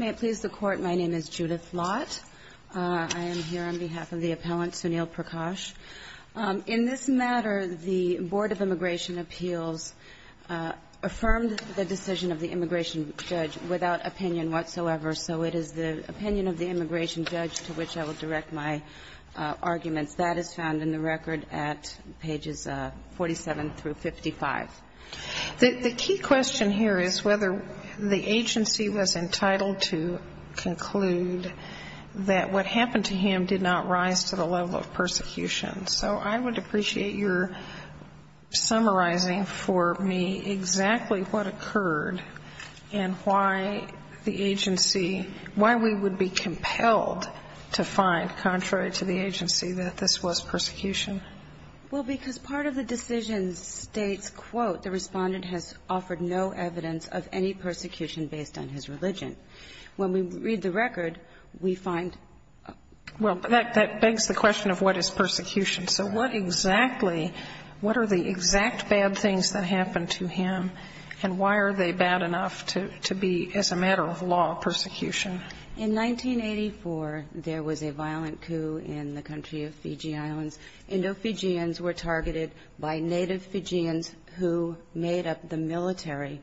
May it please the Court, my name is Judith Lott. I am here on behalf of the appellant, Sunil Prakash. In this matter, the Board of Immigration Appeals affirmed the decision of the immigration judge without opinion whatsoever. So it is the opinion of the immigration judge to which I will direct my arguments. That is found in the record at pages 47 through 55. The key question here is whether the agency was entitled to conclude that what happened to him did not rise to the level of persecution. So I would appreciate your summarizing for me exactly what occurred and why the agency, why we would be compelled to find contrary to the agency that this was persecution. Well, because part of the decision states, quote, the Respondent has offered no evidence of any persecution based on his religion. When we read the record, we find Well, that begs the question of what is persecution. So what exactly, what are the exact bad things that happened to him, and why are they bad enough to be, as a matter of law, persecution? In 1984, there was a violent coup in the country of Fiji Islands. Indo-Fijians were targeted by native Fijians who made up the military.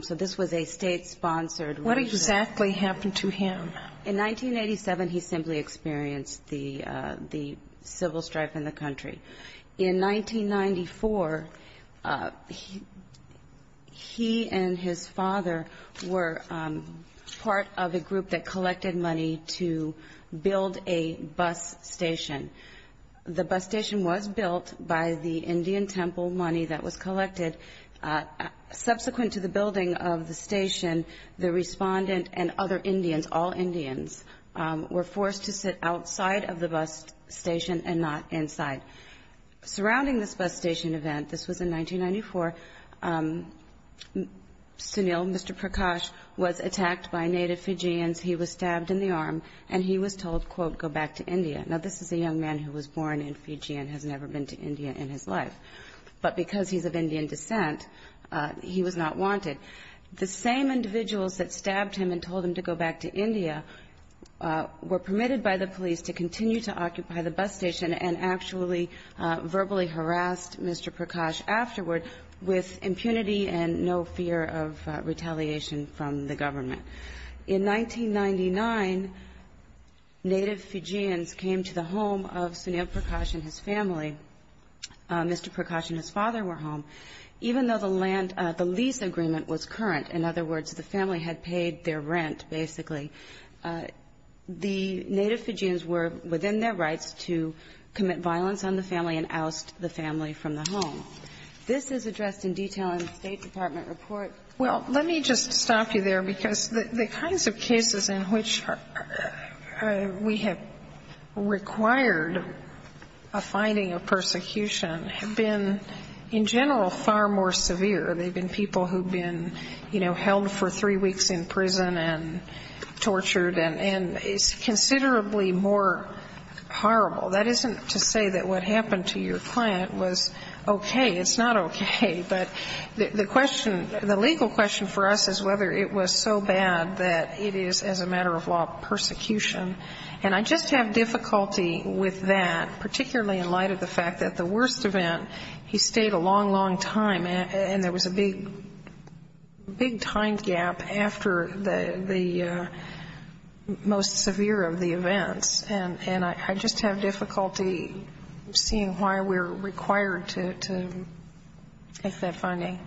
So this was a state-sponsored What exactly happened to him? In 1987, he simply experienced the civil strife in the country. In 1994, he and his father were part of a group that collected money to build a bus station. The bus station was built by the Indian temple money that was collected. Subsequent to the building of the Respondent and other Indians, all Indians, were forced to sit outside of the bus station and not inside. Surrounding this bus station event, this was in 1994, Sunil, Mr. Prakash, was attacked by native Fijians. He was stabbed in the arm, and he was told, quote, go back to India. Now, this is a young man who was born in Fiji and has never been to India in his life. But because he's of Indian descent, he was not wanted. The same individuals that stabbed him and told him to go back to India were permitted by the police to continue to occupy the bus station and actually verbally harassed Mr. Prakash afterward with impunity and no fear of retaliation from the government. In 1999, native Fijians came to the home of Sunil Prakash and his family. Mr. Prakash and his father were home. Even though the lease agreement was current, in other words, the family had paid their rent, basically, the native Fijians were within their rights to commit violence on the family and oust the family from the home. This is addressed in detail in the State Department report. Well, let me just stop you there, because the kinds of cases in which we have required a finding of persecution have been, in general, far more severe. They've been people who've been, you know, held for three weeks in prison and tortured and is considerably more horrible. That isn't to say that what happened to your client was okay. It's not okay. But the question the legal question for us is whether it was so bad that it is, as a matter of law, persecution. And I just have difficulty with that, particularly in light of the fact that the worst event, he stayed a long, long time, and there was a big, big time gap after the most severe of the events. And I just have difficulty seeing why we're required to make that finding.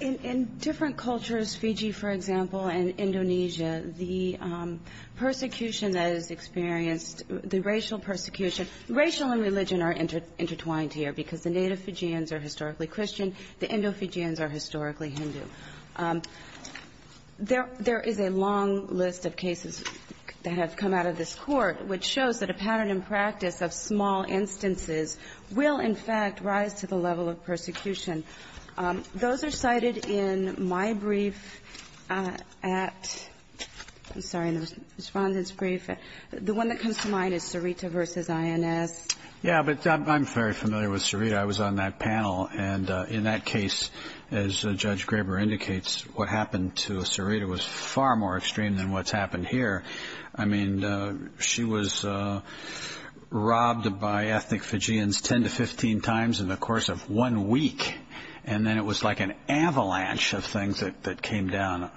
In different cultures, Fiji, for example, and Indonesia, the persecution that is experienced, the racial persecution, racial and religion are intertwined here, because the native Fijians are historically Christian. The Indo-Fijians are historically Hindu. There is a long list of cases that have come out of this Court which shows that a pattern in practice of small instances will, in fact, rise to the level of persecution. Those are cited in my brief at, I'm sorry, in the Respondent's brief. The one that comes to mind is Sarita v. INS. Yeah, but I'm very familiar with Sarita. I was on that panel. And in that case, as Judge Graber indicates, what happened to Sarita was far more extreme than what's happened here. I mean, she was robbed by ethnic Fijians 10 to 15 times in the course of one week. And then it was like an avalanche of things that came down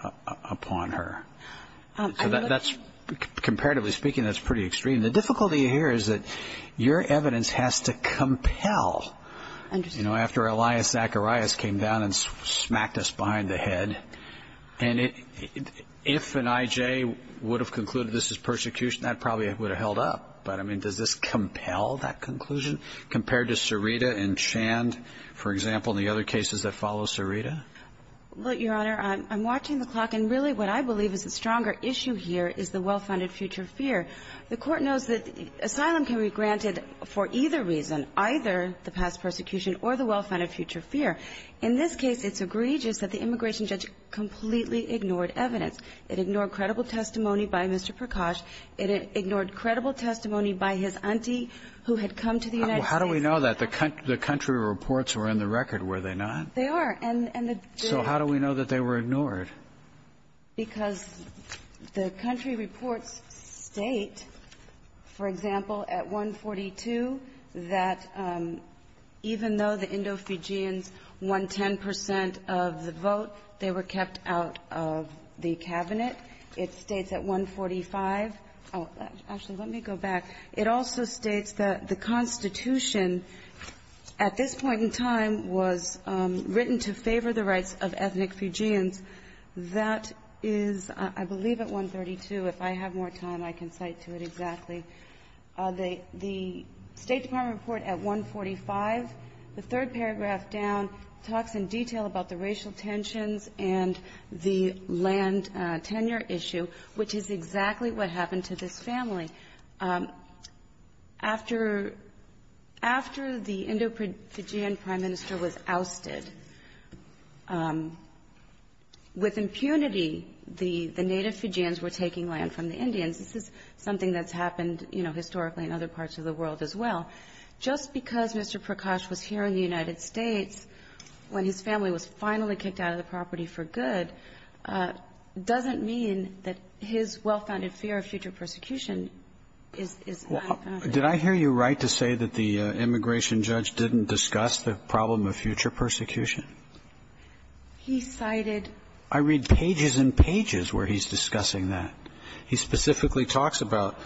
upon her. Really? So that's, comparatively speaking, that's pretty extreme. The difficulty here is that your evidence has to compel, you know, after Elias Zacharias came down and smacked us behind the head, and if an I.J. would have concluded this is persecution, that probably would have held up. But, I mean, does this compel that conclusion compared to Sarita and Chand, for example, and the other cases that follow Sarita? Well, Your Honor, I'm watching the clock, and really what I believe is the stronger issue here is the well-founded future fear. The Court knows that asylum can be granted for either reason, either the past persecution or the well-founded future fear. In this case, it's egregious that the immigration judge completely ignored evidence. It ignored credible testimony by Mr. Prakash. It ignored credible testimony by his auntie, who had come to the United States. Well, how do we know that? The country reports were in the record, were they not? They are. And the jury. So how do we know that they were ignored? Because the country reports state, for example, at 142, that even though the Indo-Fijians won 10 percent of the vote, they were kept out of the Cabinet. It states at 145. Actually, let me go back. It also states that the Constitution at this point in time was written to favor the rights of ethnic Fijians. That is, I believe, at 132. If I have more time, I can cite to it exactly. The State Department report at 145, the third paragraph down, talks in detail about the racial tensions and the land tenure issue, which is exactly what happened to this family. After the Indo-Fijian prime minister was ousted, with impunity, the native Fijians were taking land from the Indians. This is something that's happened, you know, historically in other parts of the world as well. Just because Mr. Prakash was here in the United States when his family was finally kicked out of the property for good doesn't mean that his well-founded fear of future persecution is not found there. Did I hear you right to say that the immigration judge didn't discuss the problem of future persecution? He cited ---- I read pages and pages where he's discussing that. He specifically talks about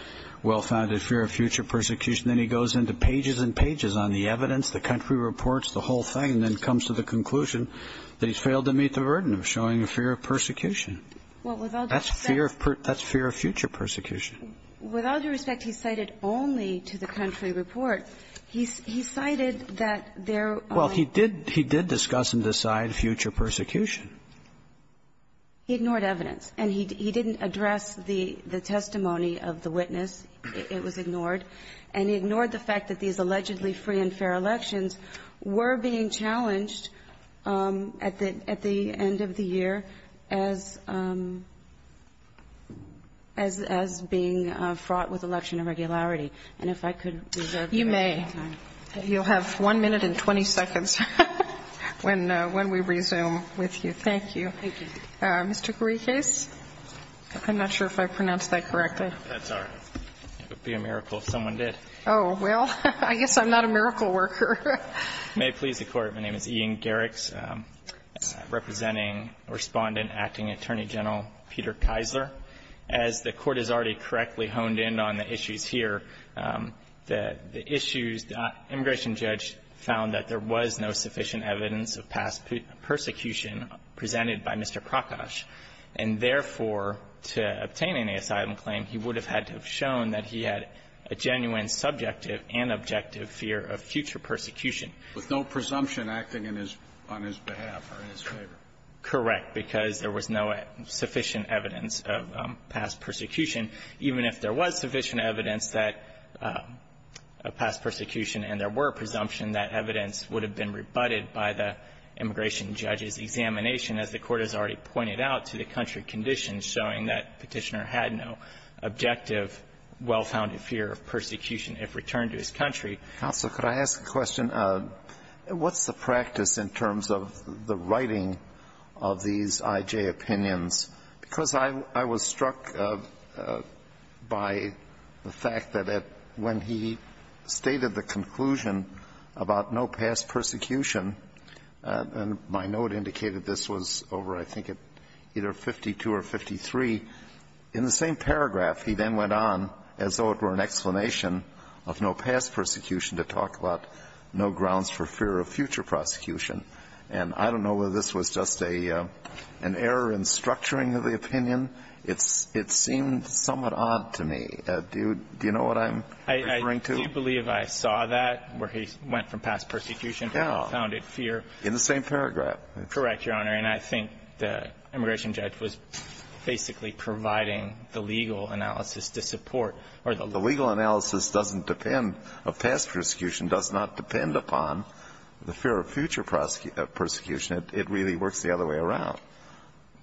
well-founded fear of future persecution, then he goes into pages and pages on the evidence, the country reports, the whole thing, and then comes to the conclusion that he's failed to meet the burden of showing fear of persecution. That's fear of future persecution. With all due respect, he cited only to the country report. He cited that there are ---- Well, he did discuss and decide future persecution. He ignored evidence. And he didn't address the testimony of the witness. It was ignored. And he ignored the fact that these allegedly free and fair elections were being challenged at the end of the year as being fraught with election irregularity. And if I could reserve your time. You may. You'll have 1 minute and 20 seconds when we resume with you. Thank you. Thank you. Mr. Garikas. I'm not sure if I pronounced that correctly. That's all right. It would be a miracle if someone did. Oh, well, I guess I'm not a miracle worker. May it please the Court, my name is Ian Garikas, representing Respondent Acting Attorney General Peter Keisler. As the Court has already correctly honed in on the issues here, the issues the immigration judge found that there was no sufficient evidence of past persecution presented by Mr. Krakosch. And therefore, to obtain any asylum claim, he would have had to have shown that he had a genuine subjective and objective fear of future persecution. With no presumption acting in his ---- on his behalf or in his favor. Correct, because there was no sufficient evidence of past persecution. Even if there was sufficient evidence that ---- of past persecution and there were presumption, that evidence would have been rebutted by the immigration judge's examination, as the Court has already pointed out, to the country conditions showing that Petitioner had no objective, well-founded fear of persecution if returned to his country. Counsel, could I ask a question? What's the practice in terms of the writing of these I.J. opinions? Because I was struck by the fact that when he stated the conclusion about no past persecution, and my note indicated this was over, I think, at either 52 or 53, in the same paragraph, he then went on as though it were an explanation of no past persecution to talk about no grounds for fear of future prosecution. And I don't know whether this was just an error in structuring of the opinion. It seemed somewhat odd to me. Do you know what I'm referring to? I do believe I saw that, where he went from past persecution to well-founded In the same paragraph. Correct, Your Honor. And I think the immigration judge was basically providing the legal analysis to support, or the legal analysis doesn't depend of past persecution, does not depend upon the fear of future prosecution. It really works the other way around,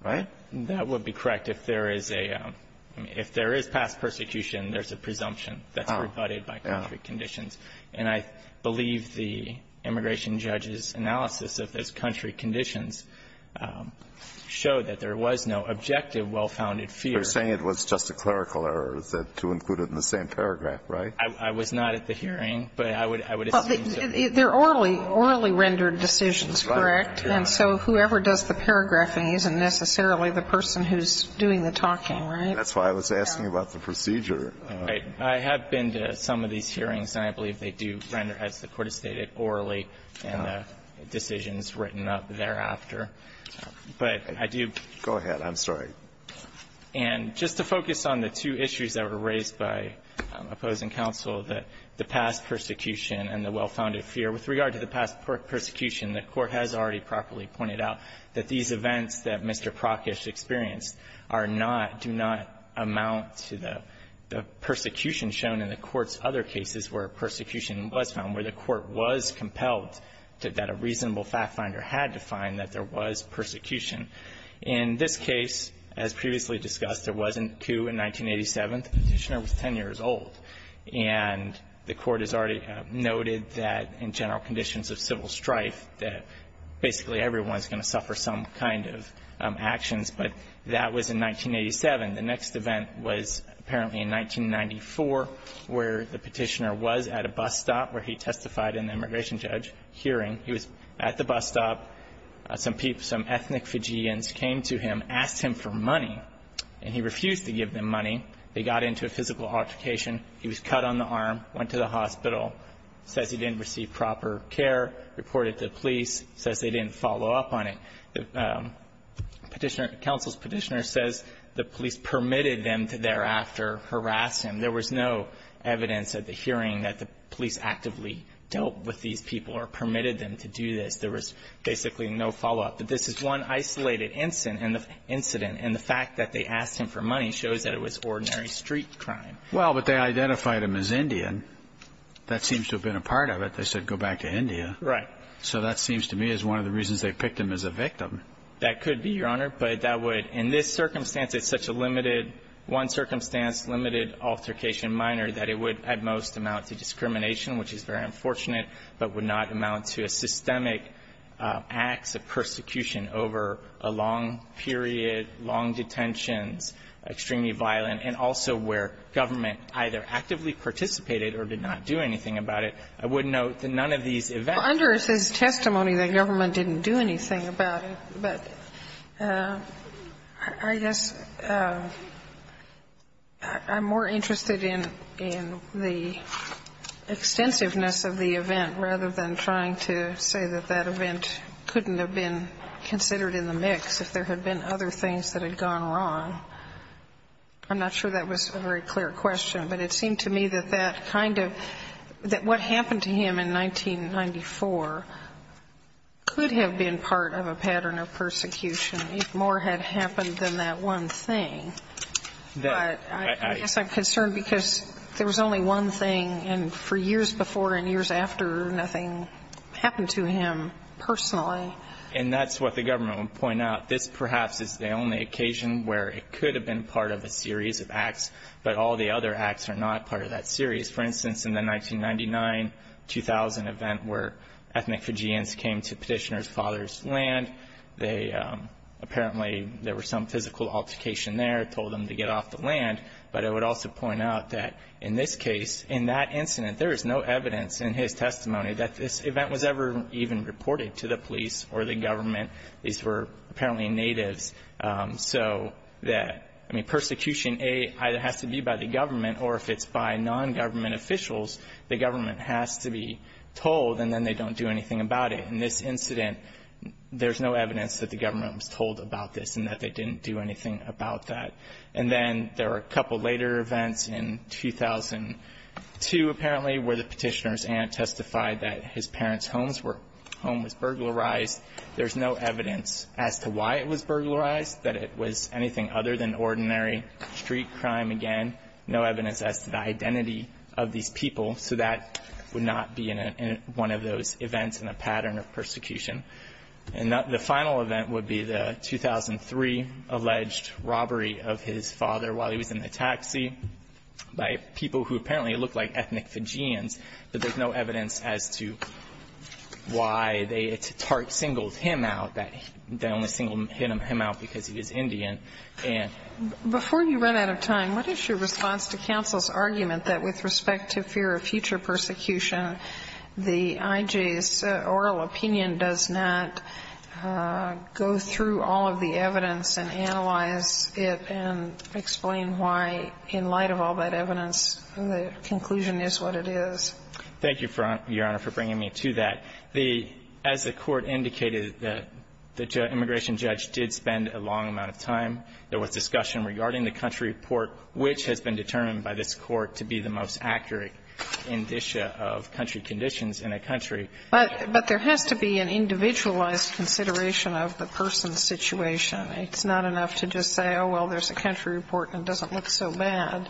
right? That would be correct. If there is a – if there is past persecution, there's a presumption that's rebutted by country conditions. And I believe the immigration judge's analysis of those country conditions showed that there was no objective well-founded fear. You're saying it was just a clerical error to include it in the same paragraph, right? I was not at the hearing, but I would assume so. They're orally rendered decisions, correct? And so whoever does the paragraphing isn't necessarily the person who's doing the talking, right? That's why I was asking about the procedure. Right. I have been to some of these hearings, and I believe they do render, as the Court has stated, orally, and decisions written up thereafter. But I do – Go ahead. I'm sorry. And just to focus on the two issues that were raised by opposing counsel, the past persecution and the well-founded fear, with regard to the past persecution, the Court has already properly pointed out that these events that Mr. Prokosch has experienced are not, do not amount to the persecution shown in the Court's other cases where persecution was found, where the Court was compelled to, that a reasonable factfinder had to find that there was persecution. In this case, as previously discussed, there wasn't a coup in 1987. The Petitioner was 10 years old. And the Court has already noted that in general conditions of civil strife that basically everyone is going to suffer some kind of actions, but that was in 1987. The next event was apparently in 1994, where the Petitioner was at a bus stop where he testified in the immigration judge hearing. He was at the bus stop. Some people, some ethnic Fijians came to him, asked him for money, and he refused to give them money. They got into a physical altercation. He was cut on the arm, went to the hospital, says he didn't receive proper care, reported to the police, says they didn't follow up on it. Petitioner, counsel's Petitioner says the police permitted them to thereafter harass him. There was no evidence at the hearing that the police actively dealt with these people or permitted them to do this. There was basically no follow-up. But this is one isolated incident, and the fact that they asked him for money shows that it was ordinary street crime. Well, but they identified him as Indian. That seems to have been a part of it. They said go back to India. Right. So that seems to me as one of the reasons they picked him as a victim. That could be, Your Honor. But that would, in this circumstance, it's such a limited, one-circumstance, limited altercation minor that it would at most amount to discrimination, which is very unfortunate, but would not amount to a systemic acts of persecution over a long period, long detentions, extremely violent, and also where government either actively participated or did not do anything about it. I would note that none of these events. Well, under his testimony, the government didn't do anything about it. But I guess I'm more interested in the extensiveness of the event rather than trying to say that that event couldn't have been considered in the mix if there had been other things that had gone wrong. I'm not sure that was a very clear question. But it seemed to me that that kind of, that what happened to him in 1994 could have been part of a pattern of persecution if more had happened than that one thing. But I guess I'm concerned because there was only one thing, and for years before and years after, nothing happened to him personally. And that's what the government would point out. This perhaps is the only occasion where it could have been part of a series of acts, but all the other acts are not part of that series. For instance, in the 1999-2000 event where ethnic Fijians came to Petitioner's father's land, they apparently, there was some physical altercation there, told them to get off the land. But I would also point out that in this case, in that incident, there is no evidence in his testimony that this event was ever even reported to the police or the government. These were apparently natives. So that, I mean, persecution, A, either has to be by the government, or if it's by nongovernment officials, the government has to be told, and then they don't do anything about it. In this incident, there's no evidence that the government was told about this and that they didn't do anything about that. And then there were a couple later events in 2002, apparently, where the Petitioner's aunt testified that his parents' home was burglarized. There's no evidence as to why it was burglarized, that it was anything other than ordinary street crime again. No evidence as to the identity of these people. So that would not be in a one of those events in a pattern of persecution. And the final event would be the 2003 alleged robbery of his father while he was in the taxi by people who apparently looked like ethnic Fijians. But there's no evidence as to why they singled him out, that they only singled him out because he was Indian. And so that would not be in a one of those events in a pattern of persecution. Before you run out of time, what is your response to counsel's argument that with respect to fear of future persecution, the I.J.'s oral opinion does not go through all of the evidence and analyze it and explain why, in light of all that evidence, the conclusion is what it is? Thank you, Your Honor, for bringing me to that. The as the Court indicated, the immigration judge did spend a long amount of time. There was discussion regarding the country report, which has been determined by this Court to be the most accurate indicia of country conditions in a country. But there has to be an individualized consideration of the person's situation. It's not enough to just say, oh, well, there's a country report and it doesn't look so bad.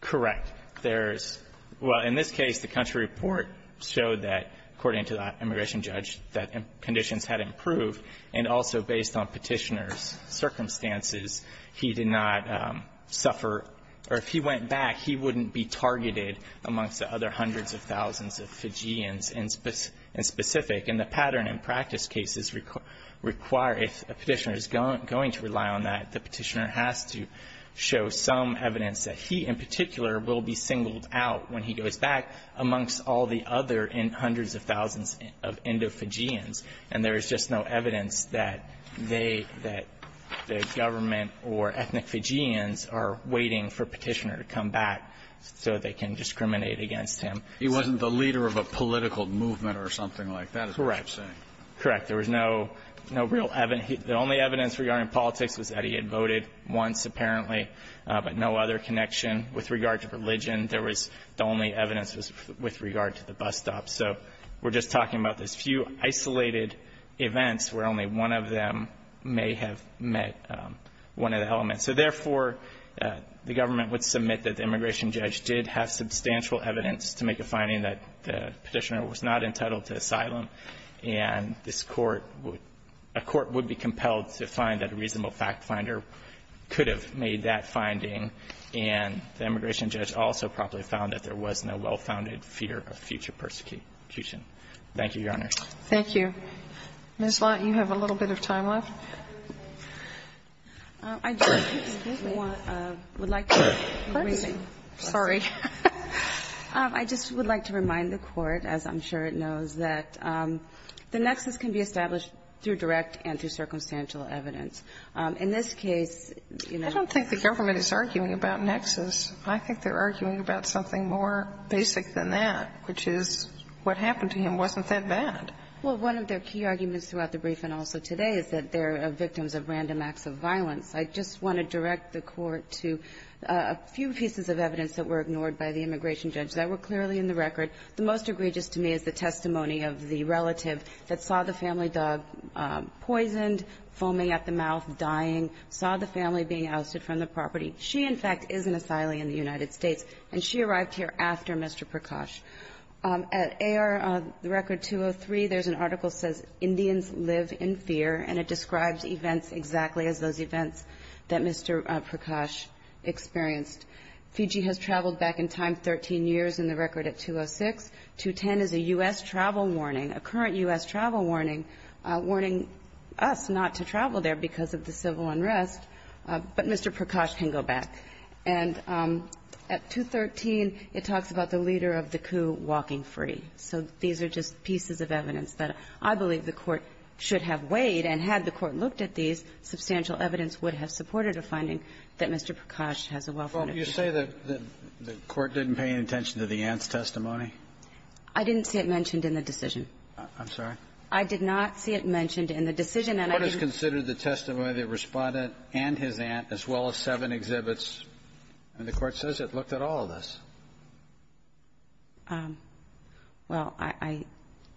Correct. There's – well, in this case, the country report showed that, according to the immigration judge, that conditions had improved, and also based on Petitioner's circumstances, he did not suffer – or if he went back, he wouldn't be targeted amongst the other hundreds of thousands of Fijians in specific. And the pattern in practice cases require – if a Petitioner is going to rely on that, the Petitioner has to show some evidence that he, in particular, will be singled out when he goes back amongst all the other hundreds of thousands of Indo-Fijians. And there is just no evidence that they – that the government or ethnic Fijians are waiting for Petitioner to come back so they can discriminate against him. He wasn't the leader of a political movement or something like that, is what you're saying. Correct. Correct. There was no – no real – the only evidence regarding politics was that he had voted once, apparently, but no other connection with regard to religion. There was – the only evidence was with regard to the bus stop. So we're just talking about this few isolated events where only one of them may have met one of the elements. So, therefore, the government would submit that the immigration judge did have substantial evidence to make a finding that the Petitioner was not entitled to asylum. And this Court would – a court would be compelled to find that a reasonable fact finder could have made that finding. And the immigration judge also probably found that there was no well-founded fear of future persecution. Thank you, Your Honor. Thank you. Ms. Lott, you have a little bit of time left. I just would like to remind the Court, as I'm sure it knows, that the Petitioner was not entitled to asylum. The nexus can be established through direct and through circumstantial evidence. In this case, you know – I don't think the government is arguing about nexus. I think they're arguing about something more basic than that, which is what happened to him wasn't that bad. Well, one of their key arguments throughout the brief and also today is that they're victims of random acts of violence. I just want to direct the Court to a few pieces of evidence that were ignored by the immigration judge that were clearly in the record. The most egregious to me is the testimony of the relative that saw the family dog poisoned, foaming at the mouth, dying, saw the family being ousted from the property. She, in fact, is an asylee in the United States, and she arrived here after Mr. Prakash. At AR, the record 203, there's an article that says Indians live in fear, and it describes events exactly as those events that Mr. Prakash experienced. Fiji has traveled back in time 13 years in the record at 206. 210 is a U.S. travel warning, a current U.S. travel warning, warning us not to travel there because of the civil unrest. But Mr. Prakash can go back. And at 213, it talks about the leader of the coup walking free. So these are just pieces of evidence that I believe the Court should have weighed, and had the Court looked at these, substantial evidence would have supported a finding that Mr. Prakash has a well-founded opinion. Well, you say that the Court didn't pay any attention to the aunt's testimony? I didn't see it mentioned in the decision. I'm sorry? I did not see it mentioned in the decision, and I didn't see it mentioned in the decision. What is considered the testimony of the Respondent and his aunt, as well as seven exhibits? I mean, the Court says it looked at all of this. Well, I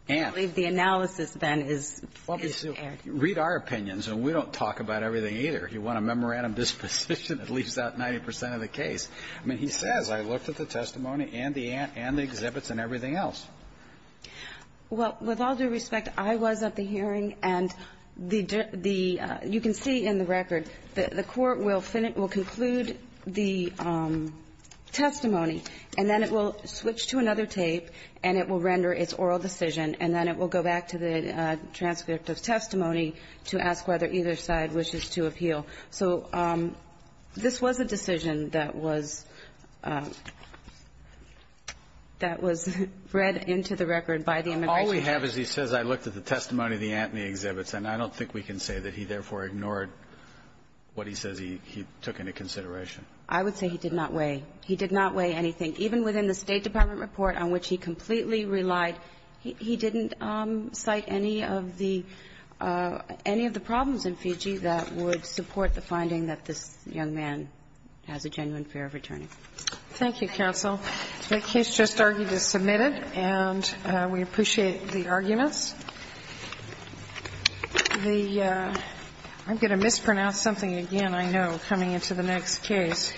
don't believe the analysis, then, is fair. Read our opinions, and we don't talk about everything either. You want a memorandum disposition, it leaves out 90 percent of the case. I mean, he says, I looked at the testimony and the aunt and the exhibits and everything else. Well, with all due respect, I was at the hearing, and the the you can see in the record, the Court will conclude the testimony, and then it will switch to another tape, and it will render its oral decision, and then it will go back to the transcript of testimony to ask whether either side wishes to appeal. So this was a decision that was that was read into the record by the immigration judge. All we have is he says, I looked at the testimony of the aunt and the exhibits, and I don't think we can say that he therefore ignored what he says he took into consideration. I would say he did not weigh. He did not weigh anything. Even within the State Department report on which he completely relied, he didn't cite any of the any of the problems in Fiji that would support the finding that this young man has a genuine fear of returning. Thank you, counsel. The case just argued is submitted, and we appreciate the arguments. The I'm going to mispronounce something again, I know, coming into the next case. I'm going to mispronounce something again, I know, coming into the next case.